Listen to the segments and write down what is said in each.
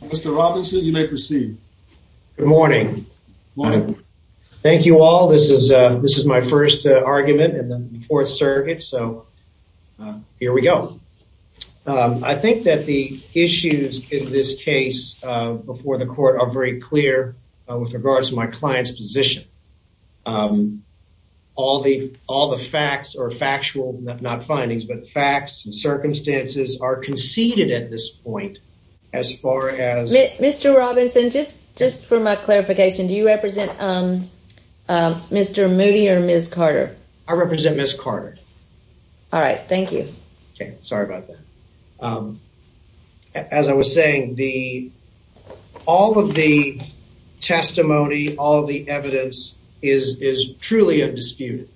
Mr. Robinson, you may proceed. Good morning. Thank you all. This is my first argument in the fourth circuit, so here we go. I think that the issues in this case before the court are very clear with regards to my client's position. All the facts are factual, not findings, but facts and circumstances are conceded at this point. Mr. Robinson, just for my clarification, do you represent Mr. Moody or Ms. Carter? I represent Ms. Carter. All right, thank you. Okay, sorry about that. As I was saying, all of the testimony, all the evidence is truly undisputed.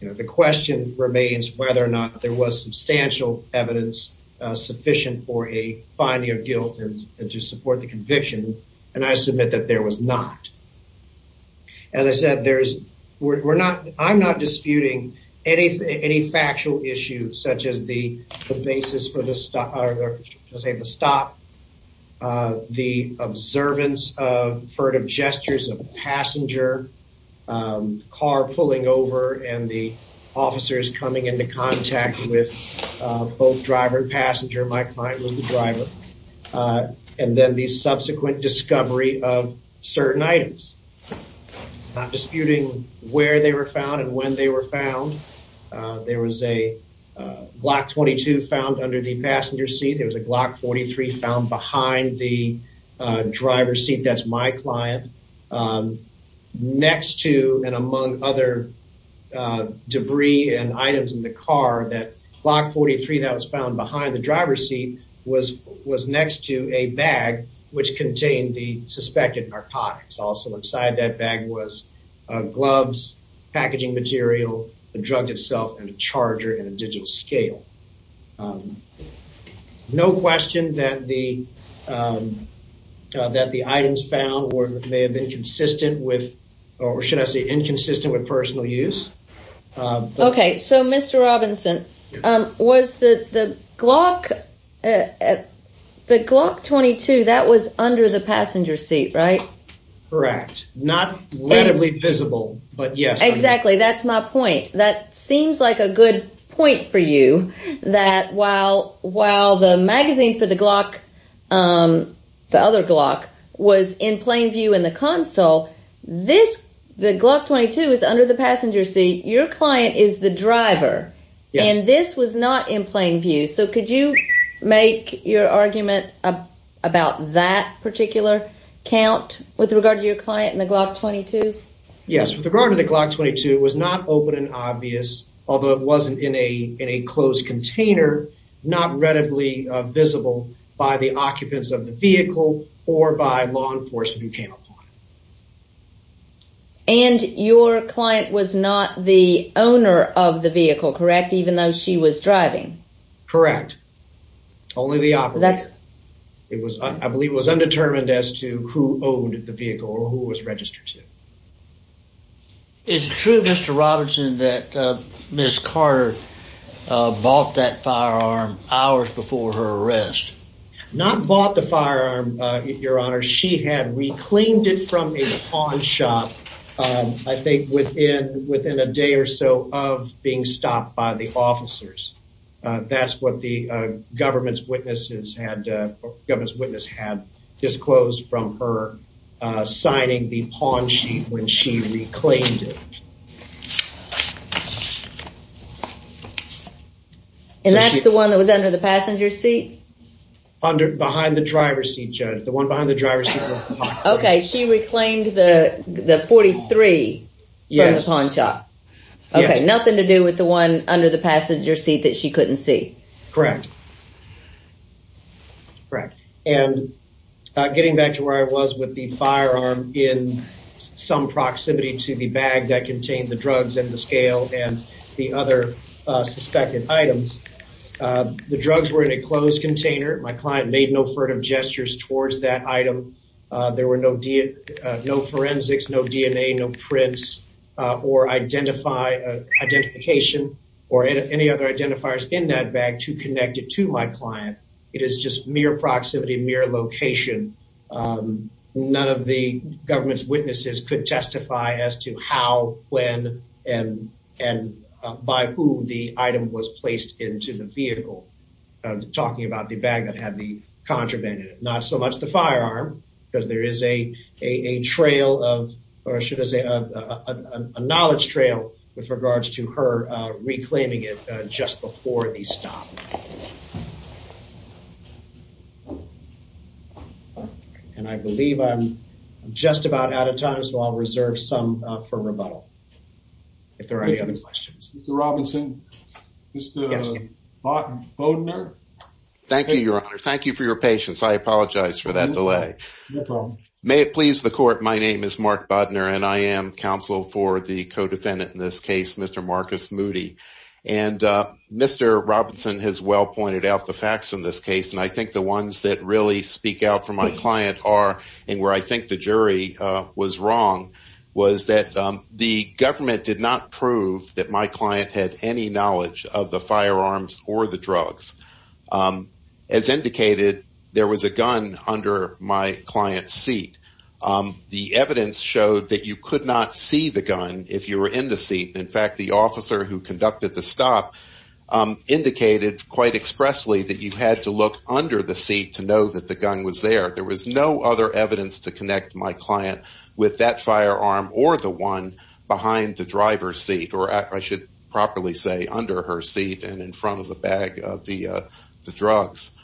You know, the question remains whether or not there was substantial evidence sufficient for a finding of guilt and to support the conviction, and I submit that there was not. As I said, there's, we're not, I'm not disputing anything, any factual issues such as the basis for the stop, the observance of furtive gestures of a passenger, car pulling over, and the officers coming into contact with both driver and passenger, my client was the driver, and then the subsequent discovery of certain items. I'm not disputing where they were found and when they were found. There was a Glock 22 found under the passenger seat. There was a Glock 43 found behind the driver seat. That's my client. Next to and among other debris and items in the car, that Glock 43 that was found behind the driver's seat was, was next to a bag which contained the suspected narcotics. Also inside that bag was gloves, packaging material, the drug itself, and a charger in a digital scale. No question that the, that the items found were, may have been consistent with, or should I say inconsistent with personal use. Okay, so Mr. Robinson, was the Glock, the Glock 22, that was under the passenger seat, right? Correct. Not visibly visible, but yes. Exactly, that's my point. That seems like a good point for you, that while, while the magazine for the Glock, the other Glock, was in plain view in the console, this, the Glock 22, is under the passenger seat. Your client is the driver. Yes. And this was not in plain view, so could you make your argument about that particular count with regard to your client in the Glock 22? Yes, with regard to the Glock 22, it was not open and obvious, although it wasn't in a, in a closed container, not readily visible by the of the vehicle, correct? Even though she was driving. Correct. Only the operator. It was, I believe, was undetermined as to who owned the vehicle or who was registered to. Is it true, Mr. Robinson, that Ms. Carter bought that firearm hours before her arrest? Not bought the firearm, Your Honor. She had reclaimed it from a pawn shop, I think, within, within a day or so of being stopped by the officers. That's what the government's witnesses had, government's witness had disclosed from her signing the pawn sheet when she reclaimed it. And that's the one that was under the passenger seat? Under, behind the driver's seat, Judge. The one behind the driver's seat. Okay, she reclaimed the, the 43 from the pawn shop. Okay, nothing to do with the one under the passenger seat that she couldn't see. Correct. Correct. And getting back to where I was with the firearm in some proximity to the bag that client made no furtive gestures towards that item. There were no, no forensics, no DNA, no prints, or identify, identification, or any other identifiers in that bag to connect it to my client. It is just mere proximity, mere location. None of the government's witnesses could testify as to how, when, and, and by whom the item was placed into the vehicle. Talking about the bag that had the contraband in it. Not so much the firearm, because there is a, a trail of, or should I say, a knowledge trail with regards to her reclaiming it just before the stop. And I believe I'm just about out of time, so I'll reserve some for rebuttal. If there are any other questions. Mr. Robinson, Mr. Bodner. Thank you, your honor. Thank you for your patience. I apologize for that delay. No problem. May it please the court, my name is Mark Bodner and I am counsel for the co-defendant in this case, Mr. Marcus Moody. And Mr. Robinson has well pointed out the facts in this case, and I think the ones that really speak out for my client are, and where I think the jury was wrong, was that the government did not prove that my client had any knowledge of the firearms or the drugs. As indicated, there was a gun under my client's seat. The evidence showed that you could not see the gun if you were in the seat. In fact, the officer who conducted the stop indicated quite expressly that you had to look under the seat to know that the gun was there. There was no other evidence to connect my client with that firearm or the one behind the driver's seat, or I should properly say under her seat and in front of the bag of the drugs.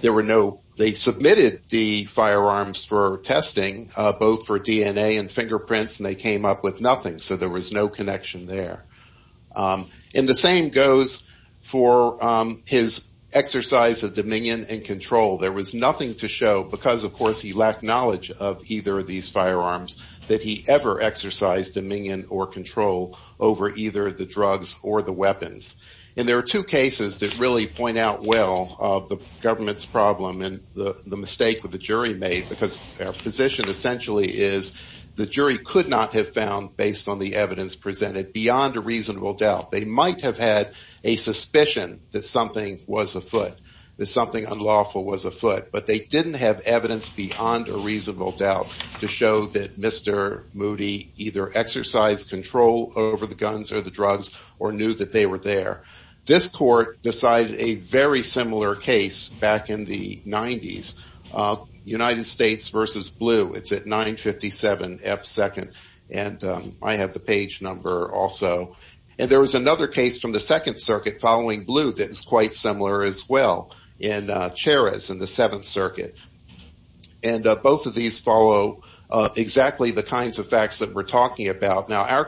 There were no, they submitted the firearms for testing, both for DNA and fingerprints, and they came up with nothing. So there was no connection there. And the same goes for his exercise of dominion and control. There was nothing to show because, of course, he lacked knowledge of either of these firearms that he ever exercised dominion or control over either the drugs or the weapons. And there are two cases that really point out well of the government's problem and the mistake that the position essentially is the jury could not have found based on the evidence presented beyond a reasonable doubt. They might have had a suspicion that something was afoot, that something unlawful was afoot, but they didn't have evidence beyond a reasonable doubt to show that Mr. Moody either exercised control over the guns or the drugs or knew that they were there. This court decided a very similar case back in the 90s, United States versus Blue. It's at 957 F. 2nd. And I have the page number also. And there was another case from the Second Circuit following Blue that is quite similar as well in Cheras in the Seventh Circuit. And both of these follow exactly the kinds of facts that we're talking about. Now in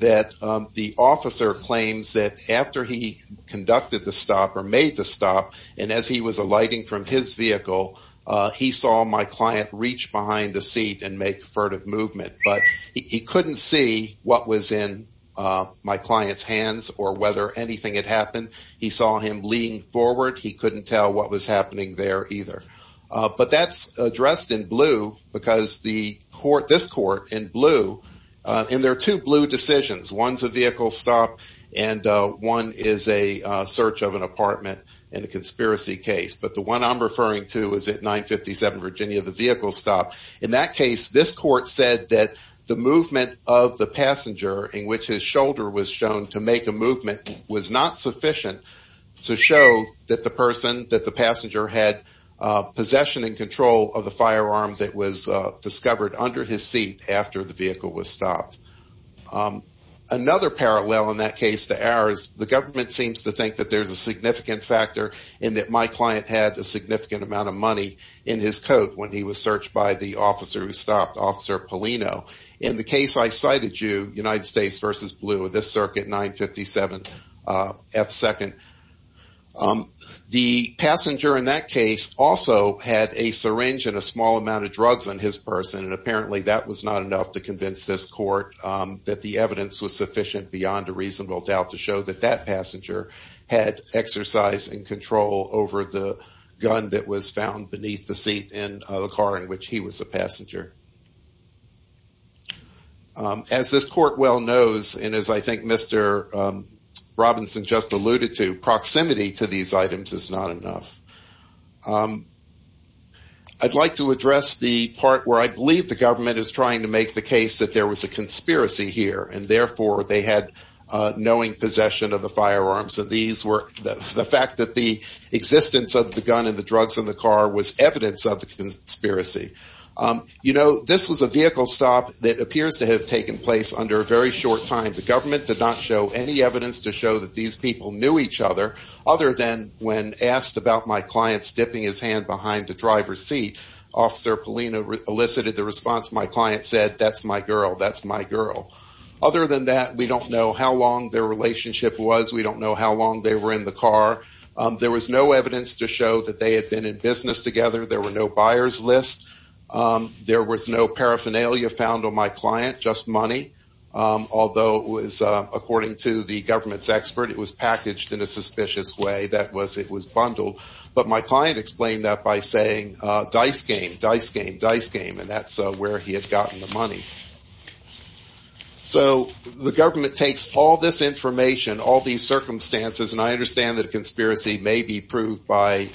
that the officer claims that after he conducted the stop or made the stop and as he was alighting from his vehicle, he saw my client reach behind the seat and make furtive movement. But he couldn't see what was in my client's hands or whether anything had happened. He saw him leaning forward. He couldn't tell what was happening there either. But that's addressed in Blue. And there are two Blue decisions. One's a vehicle stop and one is a search of an apartment and a conspiracy case. But the one I'm referring to is at 957 Virginia, the vehicle stop. In that case, this court said that the movement of the passenger in which his shoulder was shown to make a movement was not sufficient to show that the person, that the passenger had possession and control of the firearm that was discovered under his seat after the vehicle was stopped. Another parallel in that case to ours, the government seems to think that there's a significant factor in that my client had a significant amount of money in his coat when he was searched by the officer who stopped, Officer Polino. In the case I cited you, United States versus Blue, this circuit 957 F2nd. The passenger in that case also had a syringe and a small amount of drugs on his person. And apparently that was not enough to convince this court that the evidence was sufficient beyond a reasonable doubt to show that that passenger had exercise and control over the gun that was found beneath the seat in the car in which he was a passenger. As this court well knows, and as I think Mr. Robinson just alluded to, proximity to these items is not enough. I'd like to address the part where I believe the government is trying to make the case that there was a conspiracy here and therefore they had knowing possession of the firearms. And these were the fact that the existence of the gun and the drugs in the car was evidence of the conspiracy. You know, this was a vehicle stop that appears to have taken place under a very short time. The government did not show any evidence to show that these people knew each other other than when asked about my client's dipping his hand behind the driver's seat, Officer Polino elicited the response. My client said, That's my girl. That's my girl. Other than that, we don't know how long their relationship was. We don't know how long they were in the car. There was no evidence to show that they had been in business together. There were no buyers list. There was no paraphernalia found on my client, just money. Although it was, according to the government's expert, it was packaged in a suspicious way that was it was bundled. But my client explained that by saying, Dice game, dice game, dice game. And that's where he had gotten the money. So the government takes all this information, all these circumstances, and I understand that a conspiracy may be proved by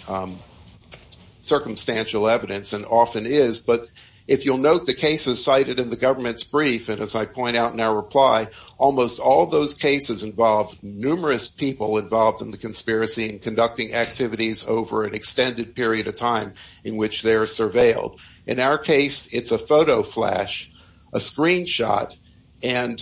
circumstantial evidence and often is. But if you'll note the cases cited in the government's brief, and as I point out in our reply, almost all those cases involve numerous people involved in the conspiracy and conducting activities over an extended period of time in which they're surveilled. In our case, it's a photo flash, a screenshot. And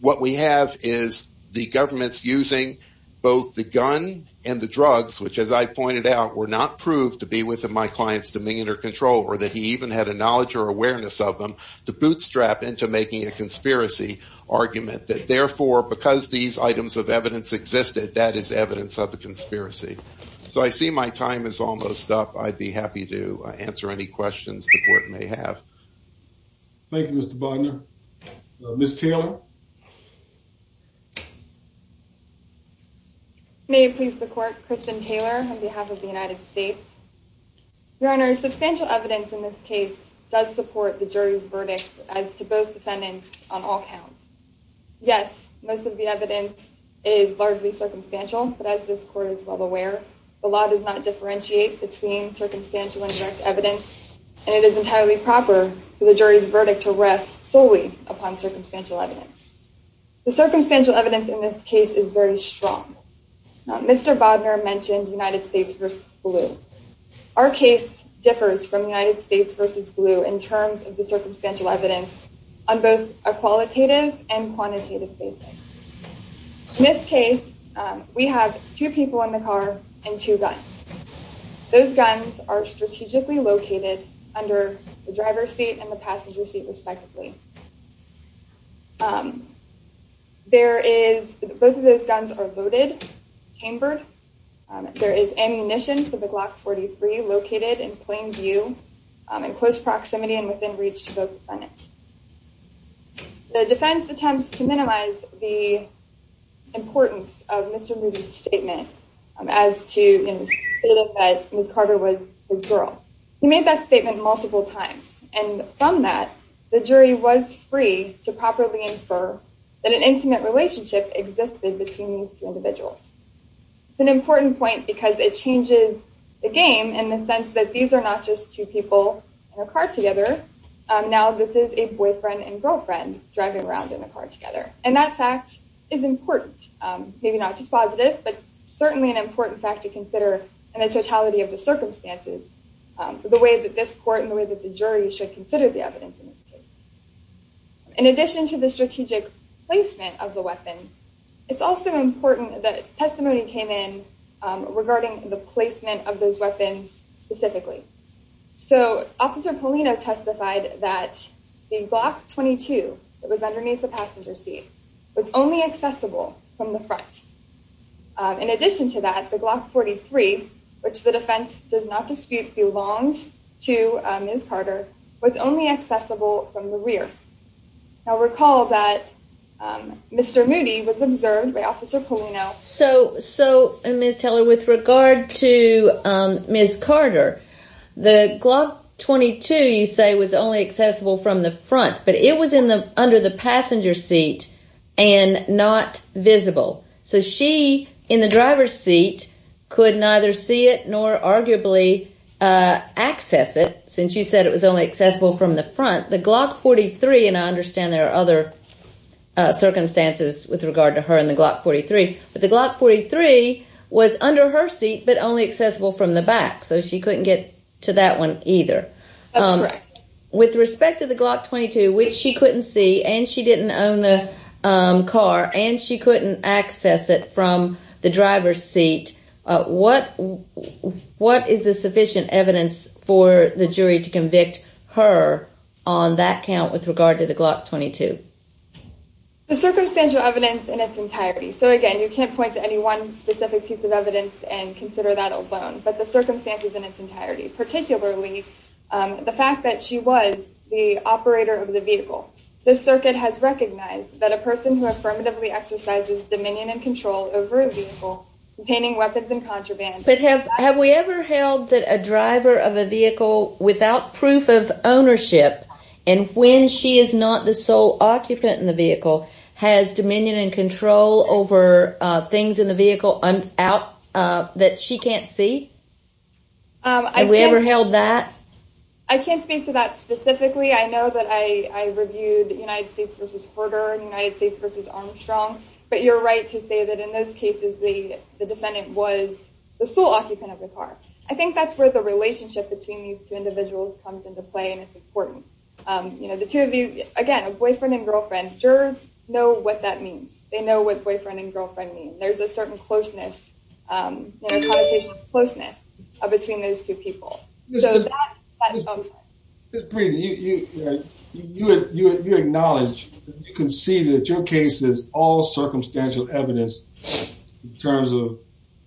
what we have is the government's using both the gun and the drugs, which as I pointed out, were not proved to be within my client's dominion or control, or that he even had a knowledge or awareness of them to bootstrap into making a conspiracy argument that therefore, because these items of evidence existed, that is evidence of the conspiracy. So I see my time is almost up. I'd be happy to answer any questions the court may have. Thank you, Mr. Bogner. Ms. Taylor. May it please the court, Kristen Taylor, on behalf of the United States. Your Honor, substantial evidence in this case does support the jury's verdict as to both defendants on all counts. Yes, most of the evidence is largely circumstantial, but as this court is well aware, the law does not differentiate between circumstantial evidence. The circumstantial evidence in this case is very strong. Mr. Bogner mentioned United States versus blue. Our case differs from United States versus blue in terms of the circumstantial evidence on both a qualitative and quantitative basis. In this case, we have two people in the courtroom. Both of those guns are loaded, chambered. There is ammunition for the Glock 43 located in plain view, in close proximity and within reach to both defendants. The defense attempts to minimize the importance of Mr. Moody's statement as to Ms. Carter was the girl. He made that statement multiple times. And from that, the jury was free to properly infer that an intimate relationship existed between these two individuals. It's an important point because it changes the game in the sense that these are not just two people in a car together. Now, this is a boyfriend and girlfriend driving around in the car together. And that fact is important. Maybe not just positive, but certainly an important fact to consider in the totality of the circumstances, the way that this court and the way that the jury should consider the evidence in this case. In addition to the strategic placement of the weapon, it's also important that testimony came in regarding the placement of those weapons specifically. So, Officer Polino testified that the Glock 43, which is a passenger seat, was only accessible from the front. In addition to that, the Glock 43, which the defense does not dispute belonged to Ms. Carter, was only accessible from the rear. Now, recall that Mr. Moody was observed by Officer Polino. So, Ms. Teller, with regard to Ms. Carter, the Glock 22, you say, was only accessible from the front, but it was under the passenger seat and not visible. So, she, in the driver's seat, could neither see it nor arguably access it, since you said it was only accessible from the front. The Glock 43, and I understand there are other circumstances with regard to her and the Glock 43, but the Glock 43 was under her seat, but only accessible from the back. So, she couldn't get to that one either. That's correct. With respect to the Glock 22, which she couldn't see, and she didn't own the car, and she couldn't access it from the driver's seat, what is the sufficient evidence for the jury to convict her on that count with regard to the Glock 22? The circumstantial evidence in its entirety. So, again, you can't point to any one specific piece of evidence and consider that alone, but the circumstances in its entirety, particularly the fact that she was the operator of the vehicle. This circuit has recognized that a person who affirmatively exercises dominion and control over a vehicle containing weapons and contraband… And when she is not the sole occupant in the vehicle, has dominion and control over things in the vehicle that she can't see? Have we ever held that? I can't speak to that specifically. I know that I reviewed United States v. Herder and United States v. Armstrong, but you're right to say that in those cases, the defendant was the sole occupant of the car. I think that's where the relationship between these two individuals comes into play, and it's important. You know, the two of you, again, a boyfriend and girlfriend, jurors know what that means. They know what boyfriend and girlfriend mean. There's a certain closeness, you know, a conversation of closeness between those two people. So, that's… Ms. Breeden, you acknowledge, you concede that your case is all circumstantial evidence in terms of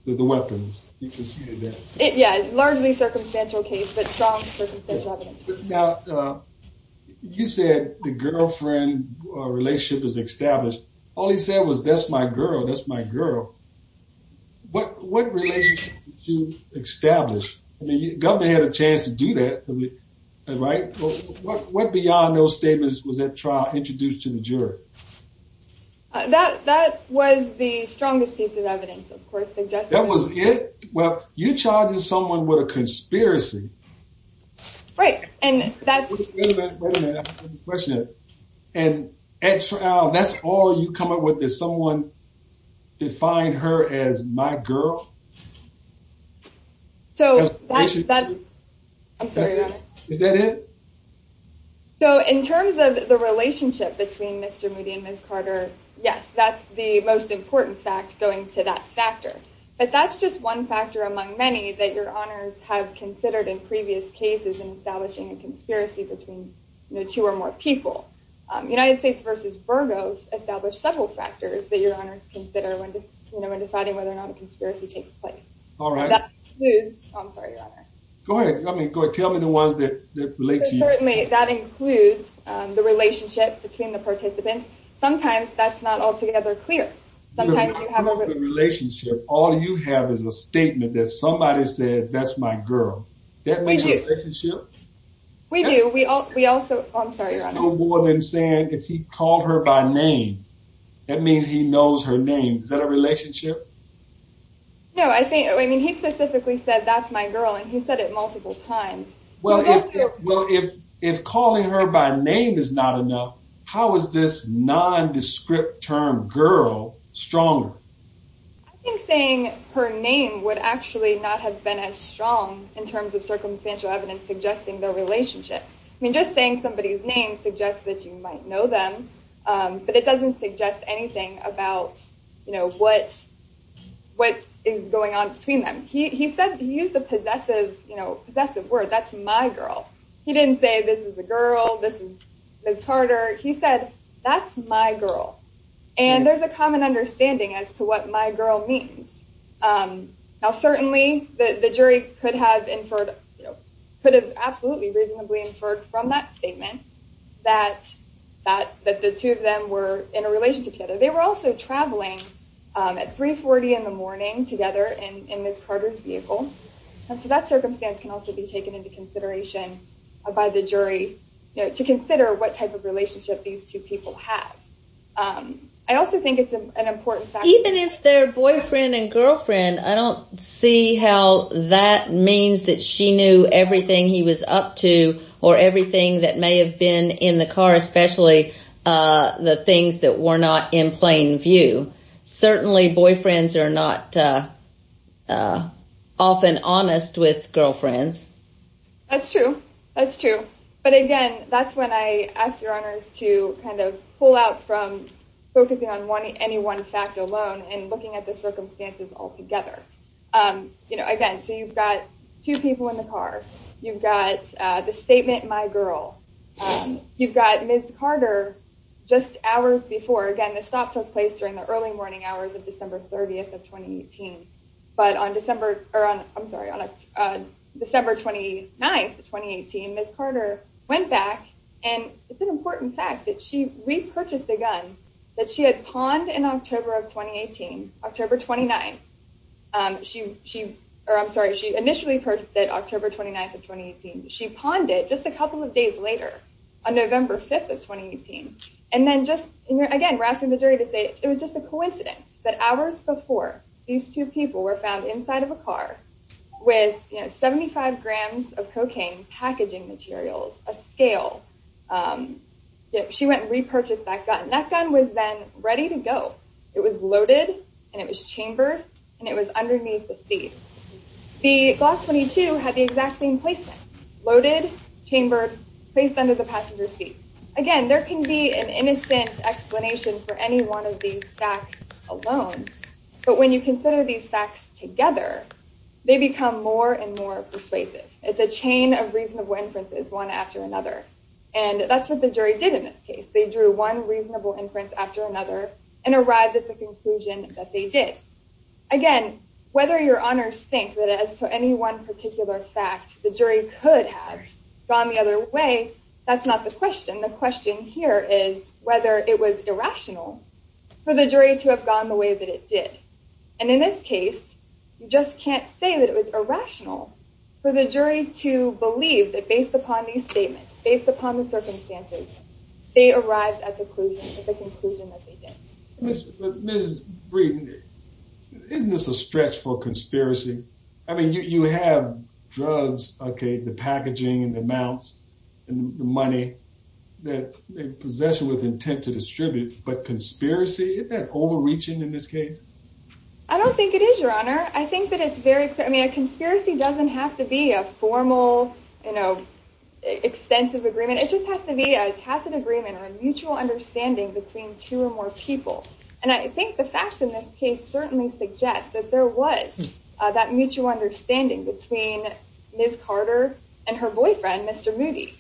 the weapons. You concede that. Yeah, largely circumstantial case, but strong circumstantial evidence. Now, you said the girlfriend relationship is established. All he said was, that's my girl, that's my girl. What relationship did you establish? I mean, the government had a chance to do that, right? What, beyond those statements, was that trial introduced to the jury? That was the strongest piece of evidence, of course. That was it? Well, you're charging someone with a conspiracy. Right, and that's… Wait a minute, wait a minute, I have a question. And at trial, that's all you come up with, is someone defined her as my girl? So, that's… I'm sorry, go ahead. Is that it? So, in terms of the relationship between Mr. Moody and Ms. Carter, yes, that's the most important fact going to that factor. But that's just one factor among many that your honors have considered in previous cases in establishing a conspiracy between two or more people. United States versus Burgos established several factors that your honors consider when deciding whether or not a conspiracy takes place. All right. I'm sorry, your honor. Go ahead, I mean, go ahead, tell me the ones that relate to you. Certainly, that includes the relationship between the participants. Sometimes that's not altogether clear. Sometimes you have… You have a relationship, all you have is a statement that somebody said, that's my girl. We do. That makes a relationship? We do. We also, I'm sorry, your honor. It's still more than saying, if he called her by name, that means he knows her name. Is that a relationship? No, I mean, he specifically said, that's my girl, and he said it multiple times. Well, if calling her by name is not enough, how is this nondescript term, girl, stronger? I think saying her name would actually not have been as strong in terms of circumstantial evidence suggesting their relationship. I mean, just saying somebody's name suggests that you might know them, but it doesn't suggest anything about, you know, what is going on between them. He said, he used a possessive, you know, possessive word, that's my girl. He didn't say, this is a girl, this is Ms. Carter. He said, that's my girl, and there's a common understanding as to what my girl means. Now, certainly, the jury could have inferred, you know, could have absolutely reasonably inferred from that statement that the two of them were in a relationship together. They were also traveling at 340 in the morning together in Ms. Carter's vehicle. So that circumstance can also be taken into consideration by the jury, you know, to consider what type of relationship these two people have. I also think it's an important factor. Even if they're boyfriend and girlfriend, I don't see how that means that she knew everything he was up to or everything that may have been in the car, especially the things that were not in plain view. Certainly, boyfriends are not often honest with girlfriends. That's true. That's true. But again, that's when I ask your honors to kind of pull out from focusing on any one fact alone and looking at the circumstances altogether. You know, again, so you've got two people in the car. You've got the statement, my girl. You've got Ms. Carter just hours before. Again, the stop took place during the early morning hours of December 30th of 2018. But on December 29th of 2018, Ms. Carter went back. And it's an important fact that she repurchased a gun that she had pawned in October of 2018, October 29th. I'm sorry, she initially purchased it October 29th of 2018. She pawned it just a couple of days later on November 5th of 2018. Again, we're asking the jury to say it was just a coincidence that hours before these two people were found inside of a car with 75 grams of cocaine packaging materials, a scale. She went and repurchased that gun. That gun was then ready to go. It was loaded, and it was chambered, and it was underneath the seat. The Glock 22 had the exact same placement, loaded, chambered, placed under the passenger seat. Again, there can be an innocent explanation for any one of these facts alone. But when you consider these facts together, they become more and more persuasive. It's a chain of reasonable inferences, one after another. And that's what the jury did in this case. They drew one reasonable inference after another and arrived at the conclusion that they did. Again, whether your honors think that as to any one particular fact, the jury could have gone the other way, that's not the question. The question here is whether it was irrational for the jury to have gone the way that it did. And in this case, you just can't say that it was irrational for the jury to believe that based upon these statements, based upon the circumstances, they arrived at the conclusion that they did. Ms. Breeden, isn't this a stretch for conspiracy? I mean, you have drugs, okay, the packaging and the amounts and the money, the possession with intent to distribute. But conspiracy, isn't that overreaching in this case? I don't think it is, Your Honor. I think that it's very clear. I mean, a conspiracy doesn't have to be a formal, you know, extensive agreement. It just has to be a tacit agreement or a mutual understanding between two or more people. And I think the facts in this case certainly suggest that there was that mutual understanding between Ms. Carter and her boyfriend, Mr. Moody.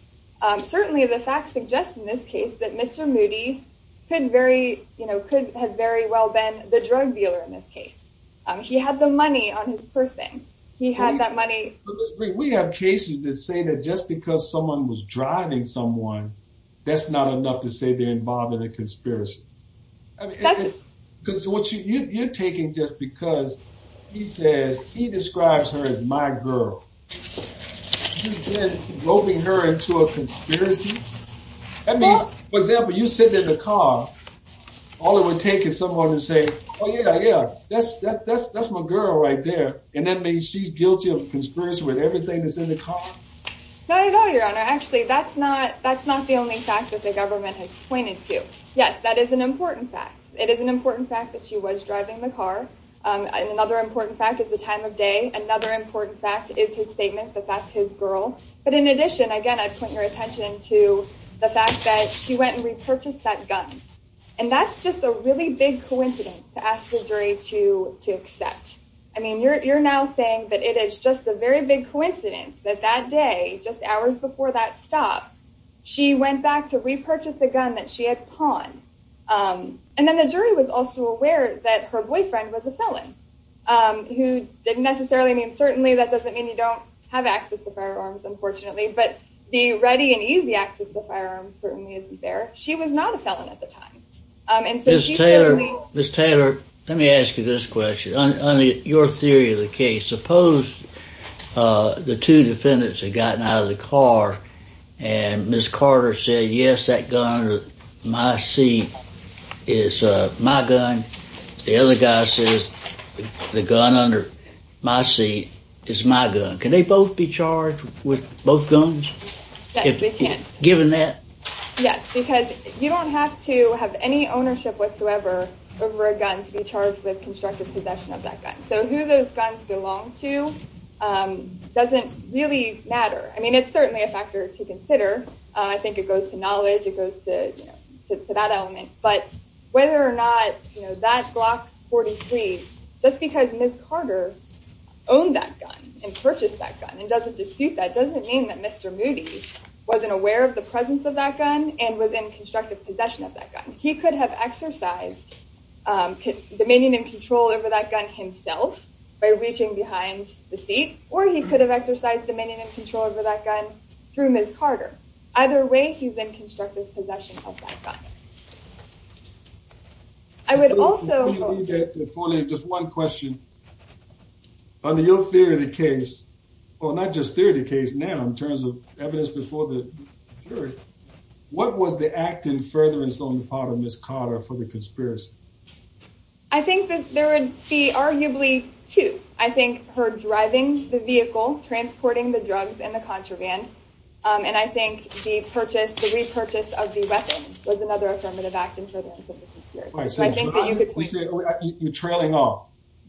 Certainly, the facts suggest in this case that Mr. Moody could very, you know, could have very well been the drug dealer in this case. He had the money on his person. He had that money. Ms. Breeden, we have cases that say that just because someone was driving someone, that's not enough to say they're involved in a conspiracy. I mean, because what you're taking just because he says he describes her as my girl, you're then roping her into a conspiracy? That means, for example, you're sitting in the car, all it would take is someone to say, oh, yeah, yeah, that's my girl right there. And that means she's guilty of conspiracy with everything that's in the car? Not at all, Your Honor. Actually, that's not the only fact that the government has pointed to. Yes, that is an important fact. It is an important fact that she was driving the car. And another important fact is the time of day. Another important fact is his statement that that's his girl. But in addition, again, I'd point your attention to the fact that she went and repurchased that gun. And that's just a really big coincidence to ask the jury to accept. I mean, you're now saying that it is just a very big coincidence that that day, just hours before that stop, she went back to repurchase the gun that she had pawned. And then the jury was also aware that her boyfriend was a felon, who didn't necessarily mean certainly. That doesn't mean you don't have access to firearms, unfortunately. But the ready and easy access to firearms certainly isn't there. She was not a felon at the time. Ms. Taylor, let me ask you this question. On your theory of the case, suppose the two defendants had gotten out of the car and Ms. Carter said, yes, that gun under my seat is my gun. The other guy says the gun under my seat is my gun. Can they both be charged with both guns? Yes, they can. Given that? Yes, because you don't have to have any ownership whatsoever over a gun to be charged with constructive possession of that gun. So who those guns belong to doesn't really matter. I mean, it's certainly a factor to consider. I think it goes to knowledge. It goes to that element. But whether or not that Glock 43, just because Ms. Carter owned that gun and purchased that gun and doesn't dispute that doesn't mean that Mr. Moody wasn't aware of the presence of that gun and was in constructive possession of that gun. He could have exercised dominion and control over that gun himself by reaching behind the seat, or he could have exercised dominion and control over that gun through Ms. Carter. Either way, he's in constructive possession of that gun. I would also. Just one question. Under your theory of the case, or not just theory of the case now, in terms of evidence before the jury, what was the act in furtherance on the part of Ms. Carter for the conspiracy? I think that there would be arguably two. I think her driving the vehicle, transporting the drugs in the contraband. And I think the purchase, the repurchase of the weapon was another affirmative act in furtherance of the conspiracy. You're trailing off.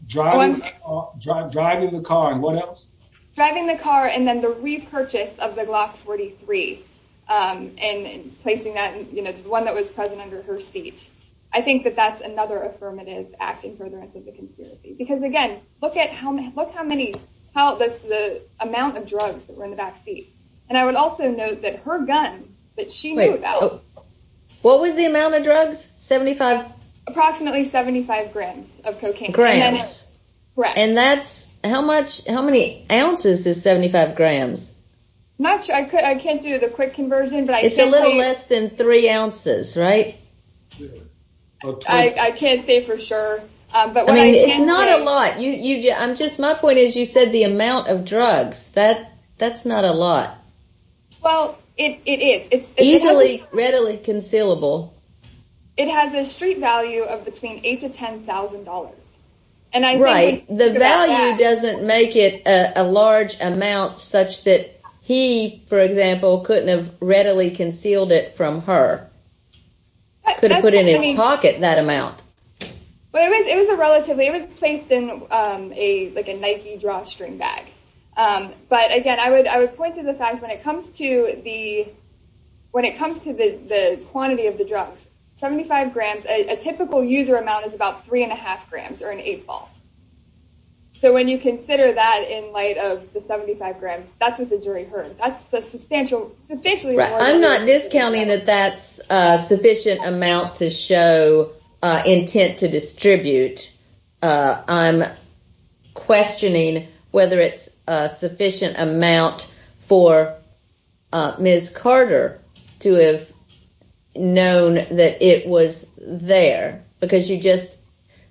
Driving the car and what else? Driving the car and then the repurchase of the Glock 43 and placing that one that was present under her seat. I think that that's another affirmative act in furtherance of the conspiracy. Because again, look how many, the amount of drugs that were in the back seat. And I would also note that her gun that she knew about. What was the amount of drugs? 75? Approximately 75 grams of cocaine. Grams. Correct. And that's, how many ounces is 75 grams? I'm not sure, I can't do the quick conversion. It's a little less than three ounces, right? I can't say for sure. It's not a lot. My point is you said the amount of drugs. That's not a lot. Well, it is. It's easily, readily concealable. It has a street value of between $8,000 to $10,000. Right. The value doesn't make it a large amount such that he, for example, couldn't have readily concealed it from her. Could have put it in his pocket, that amount. It was a relatively, it was placed in like a Nike drawstring bag. But again, I would point to the fact when it comes to the quantity of the drugs, 75 grams, a typical user amount is about three and a half grams or an eight ball. So when you consider that in light of the 75 grams, that's what the jury heard. That's a substantial, substantially more than that. I'm not discounting that that's a sufficient amount to show intent to distribute. I'm questioning whether it's a sufficient amount for Ms. Carter to have known that it was there because you just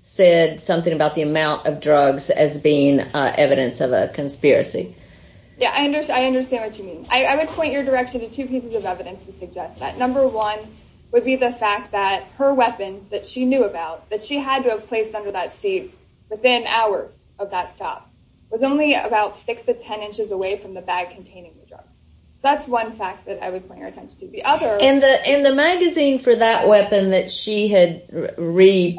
said something about the amount of drugs as being evidence of a conspiracy. Yeah, I understand. I understand what you mean. I would point your direction to two pieces of evidence to suggest that number one would be the fact that her weapons that she knew about, that she had to have placed under that seat within hours of that stop was only about six to 10 inches away from the bag containing the drugs. So that's one fact that I would point your attention to. And the magazine for that weapon that she had read,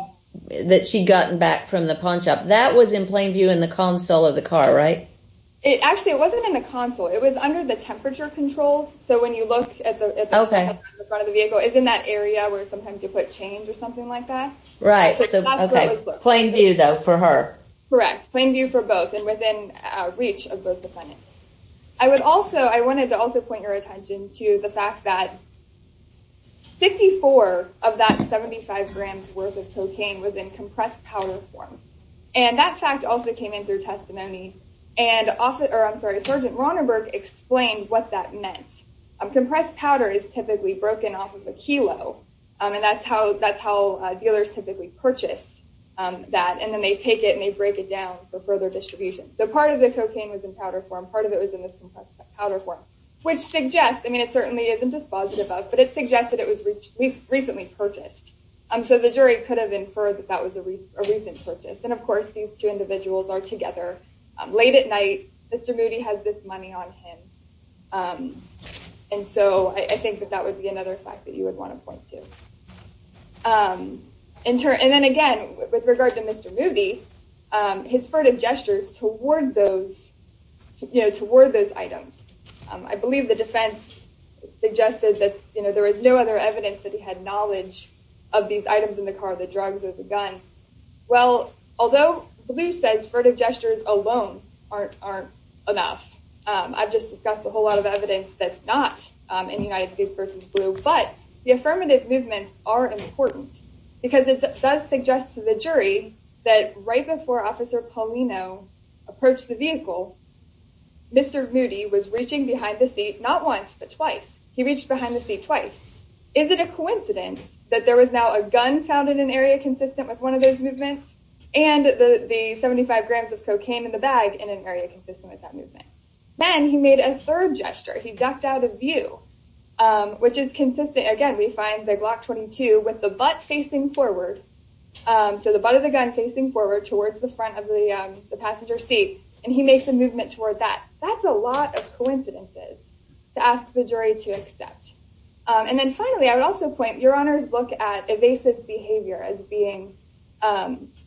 that she'd gotten back from the pawn shop, that was in plain view in the console of the car, right? Actually, it wasn't in the console. It was under the temperature controls. So when you look at the front of the vehicle, it's in that area where sometimes you put change or something like that. Right. So plain view, though, for her. Correct. Plain view for both and within reach of both defendants. I would also I wanted to also point your attention to the fact that 54 of that 75 grams worth of cocaine was in compressed powder form. And that fact also came in through testimony. And Sergeant Ronenberg explained what that meant. Compressed powder is typically broken off of a kilo. And that's how dealers typically purchase that. And then they take it and they break it down for further distribution. So part of the cocaine was in powder form. Part of it was in the compressed powder form. Which suggests, I mean, it certainly isn't dispositive of, but it suggests that it was recently purchased. So the jury could have inferred that that was a recent purchase. And, of course, these two individuals are together. Late at night, Mr. Moody has this money on him. And so I think that that would be another fact that you would want to point to. And then, again, with regard to Mr. Moody, his furtive gestures toward those items. I believe the defense suggested that there was no other evidence that he had knowledge of these items in the car. The drugs or the gun. Well, although Blue says furtive gestures alone aren't enough. I've just discussed a whole lot of evidence that's not in United States v. Blue. But the affirmative movements are important. Because it does suggest to the jury that right before Officer Paulino approached the vehicle, Mr. Moody was reaching behind the seat not once, but twice. He reached behind the seat twice. Is it a coincidence that there was now a gun found in an area consistent with one of those movements? And the 75 grams of cocaine in the bag in an area consistent with that movement. Then he made a third gesture. He ducked out of view. Which is consistent, again, we find the Glock 22 with the butt facing forward. So the butt of the gun facing forward towards the front of the passenger seat. And he makes a movement toward that. That's a lot of coincidences to ask the jury to accept. And then finally, I would also point, your honors look at evasive behavior as being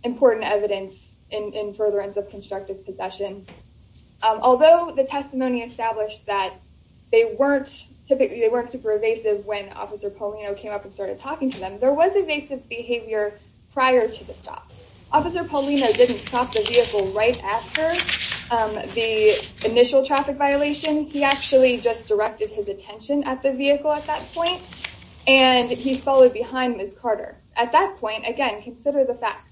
important evidence in furtherance of constructive possession. Although the testimony established that they weren't super evasive when Officer Paulino came up and started talking to them, there was evasive behavior prior to the stop. Officer Paulino didn't stop the vehicle right after the initial traffic violation. He actually just directed his attention at the vehicle at that point. And he followed behind Ms. Carter. At that point, again, consider the facts.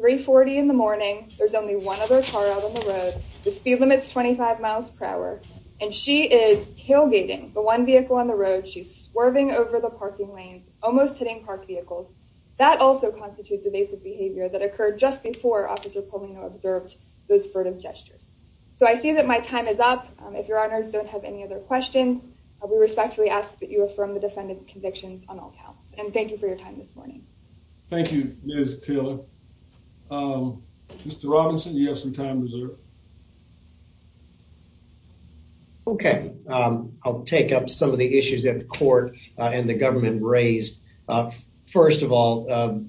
3.40 in the morning. There's only one other car out on the road. The speed limit's 25 miles per hour. And she is tailgating the one vehicle on the road. She's swerving over the parking lanes, almost hitting parked vehicles. That also constitutes evasive behavior that occurred just before Officer Paulino observed those furtive gestures. So I see that my time is up. If your honors don't have any other questions, we respectfully ask that you affirm the defendant's convictions on all counts. And thank you for your time this morning. Thank you, Ms. Taylor. Mr. Robinson, you have some time reserved. Okay. I'll take up some of the issues that the court and the government raised. First of all,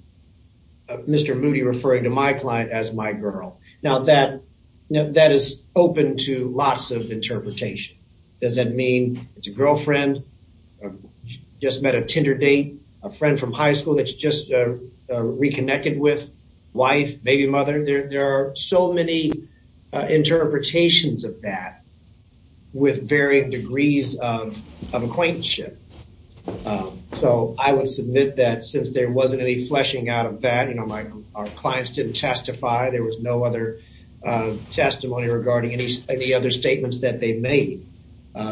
Mr. Moody referring to my client as my girl. Now, that is open to lots of interpretation. Does that mean it's a girlfriend, just met a Tinder date, a friend from high school that you just reconnected with, wife, baby mother? There are so many interpretations of that with varying degrees of acquaintanceship. So I would submit that since there wasn't any fleshing out of that, you know, our clients didn't testify. There was no other testimony regarding any other statements that they made.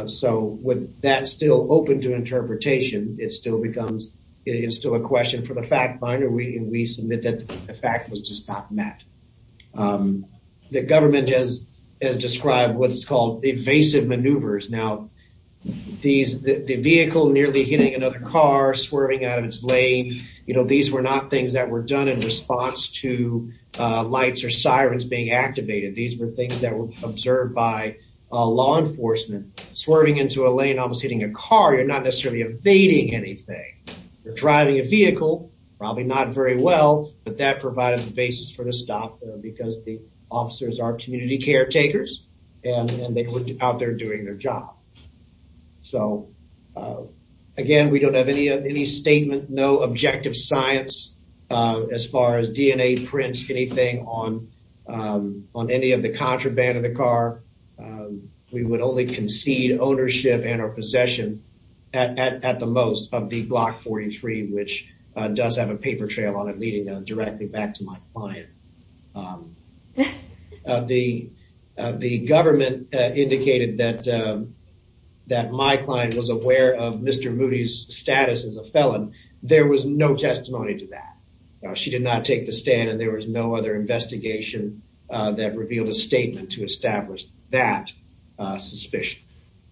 So with that still open to interpretation, it still becomes, it's still a question for the fact finder. We submit that the fact was just not met. The government has described what's called evasive maneuvers. Now, the vehicle nearly hitting another car, swerving out of its lane, you know, these were not things that were done in response to lights or sirens being activated. These were things that were observed by law enforcement. Swerving into a lane almost hitting a car, you're not necessarily evading anything. You're driving a vehicle, probably not very well, but that provided the basis for the stop because the officers are community caretakers and they were out there doing their job. So, again, we don't have any statement, no objective science as far as DNA prints, anything on any of the contraband in the car. We would only concede ownership and our possession at the most of the Block 43, which does have a paper trail on it leading directly back to my client. The government indicated that my client was aware of Mr. Moody's status as a felon. There was no testimony to that. She did not take the stand and there was no other investigation that revealed a statement to establish that suspicion.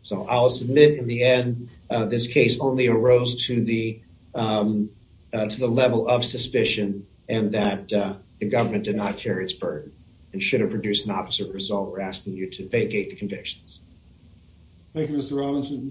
So I'll submit in the end, this case only arose to the to the level of suspicion and that the government did not carry its burden and should have produced an opposite result. We're asking you to vacate the convictions. Thank you, Mr. Robinson.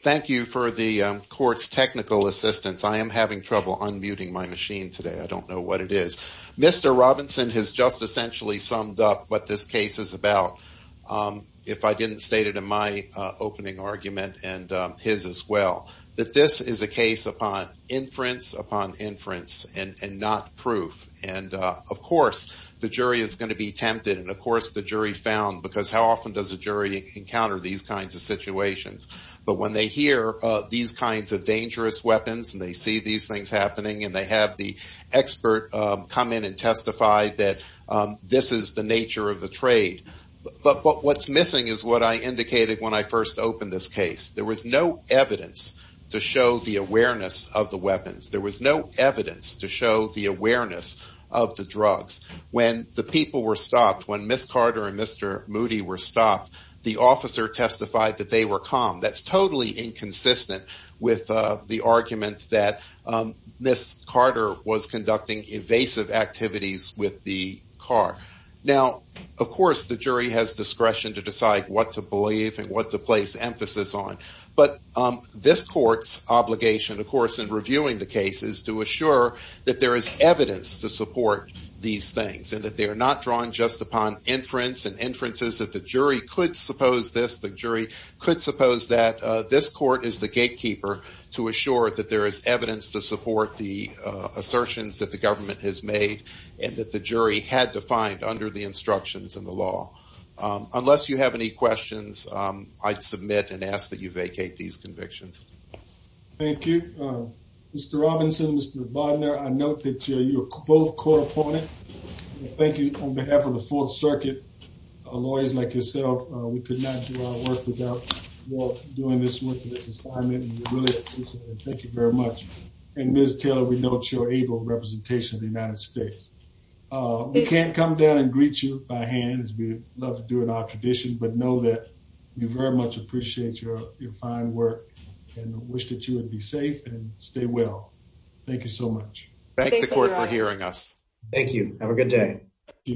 Thank you for the court's technical assistance. I am having trouble unmuting my machine today. I don't know what it is. Mr. Robinson has just essentially summed up what this case is about. If I didn't state it in my opening argument and his as well, that this is a case upon inference, upon inference and not proof. And, of course, the jury is going to be tempted. And, of course, the jury found because how often does a jury encounter these kinds of situations? But when they hear these kinds of dangerous weapons and they see these things happening and they have the expert come in and testify that this is the nature of the trade. But what's missing is what I indicated when I first opened this case. There was no evidence to show the awareness of the weapons. There was no evidence to show the awareness of the drugs. When the people were stopped, when Miss Carter and Mr. Moody were stopped, the officer testified that they were calm. That's totally inconsistent with the argument that Miss Carter was conducting evasive activities with the car. Now, of course, the jury has discretion to decide what to believe and what to place emphasis on. But this court's obligation, of course, in reviewing the case is to assure that there is evidence to support these things. And that they are not drawn just upon inference and inferences that the jury could suppose this. The jury could suppose that this court is the gatekeeper to assure that there is evidence to support the assertions that the government has made. And that the jury had to find under the instructions of the law. Unless you have any questions, I'd submit and ask that you vacate these convictions. Thank you. Mr. Robinson, Mr. Bodner, I note that you are both court opponents. Thank you on behalf of the Fourth Circuit. Lawyers like yourself, we could not do our work without you all doing this work for this assignment. We really appreciate it. Thank you very much. And Ms. Taylor, we note your able representation of the United States. We can't come down and greet you by hand as we love to do in our tradition. But know that we very much appreciate your fine work and wish that you would be safe and stay well. Thank you so much. Thank the court for hearing us. Thank you. Have a good day.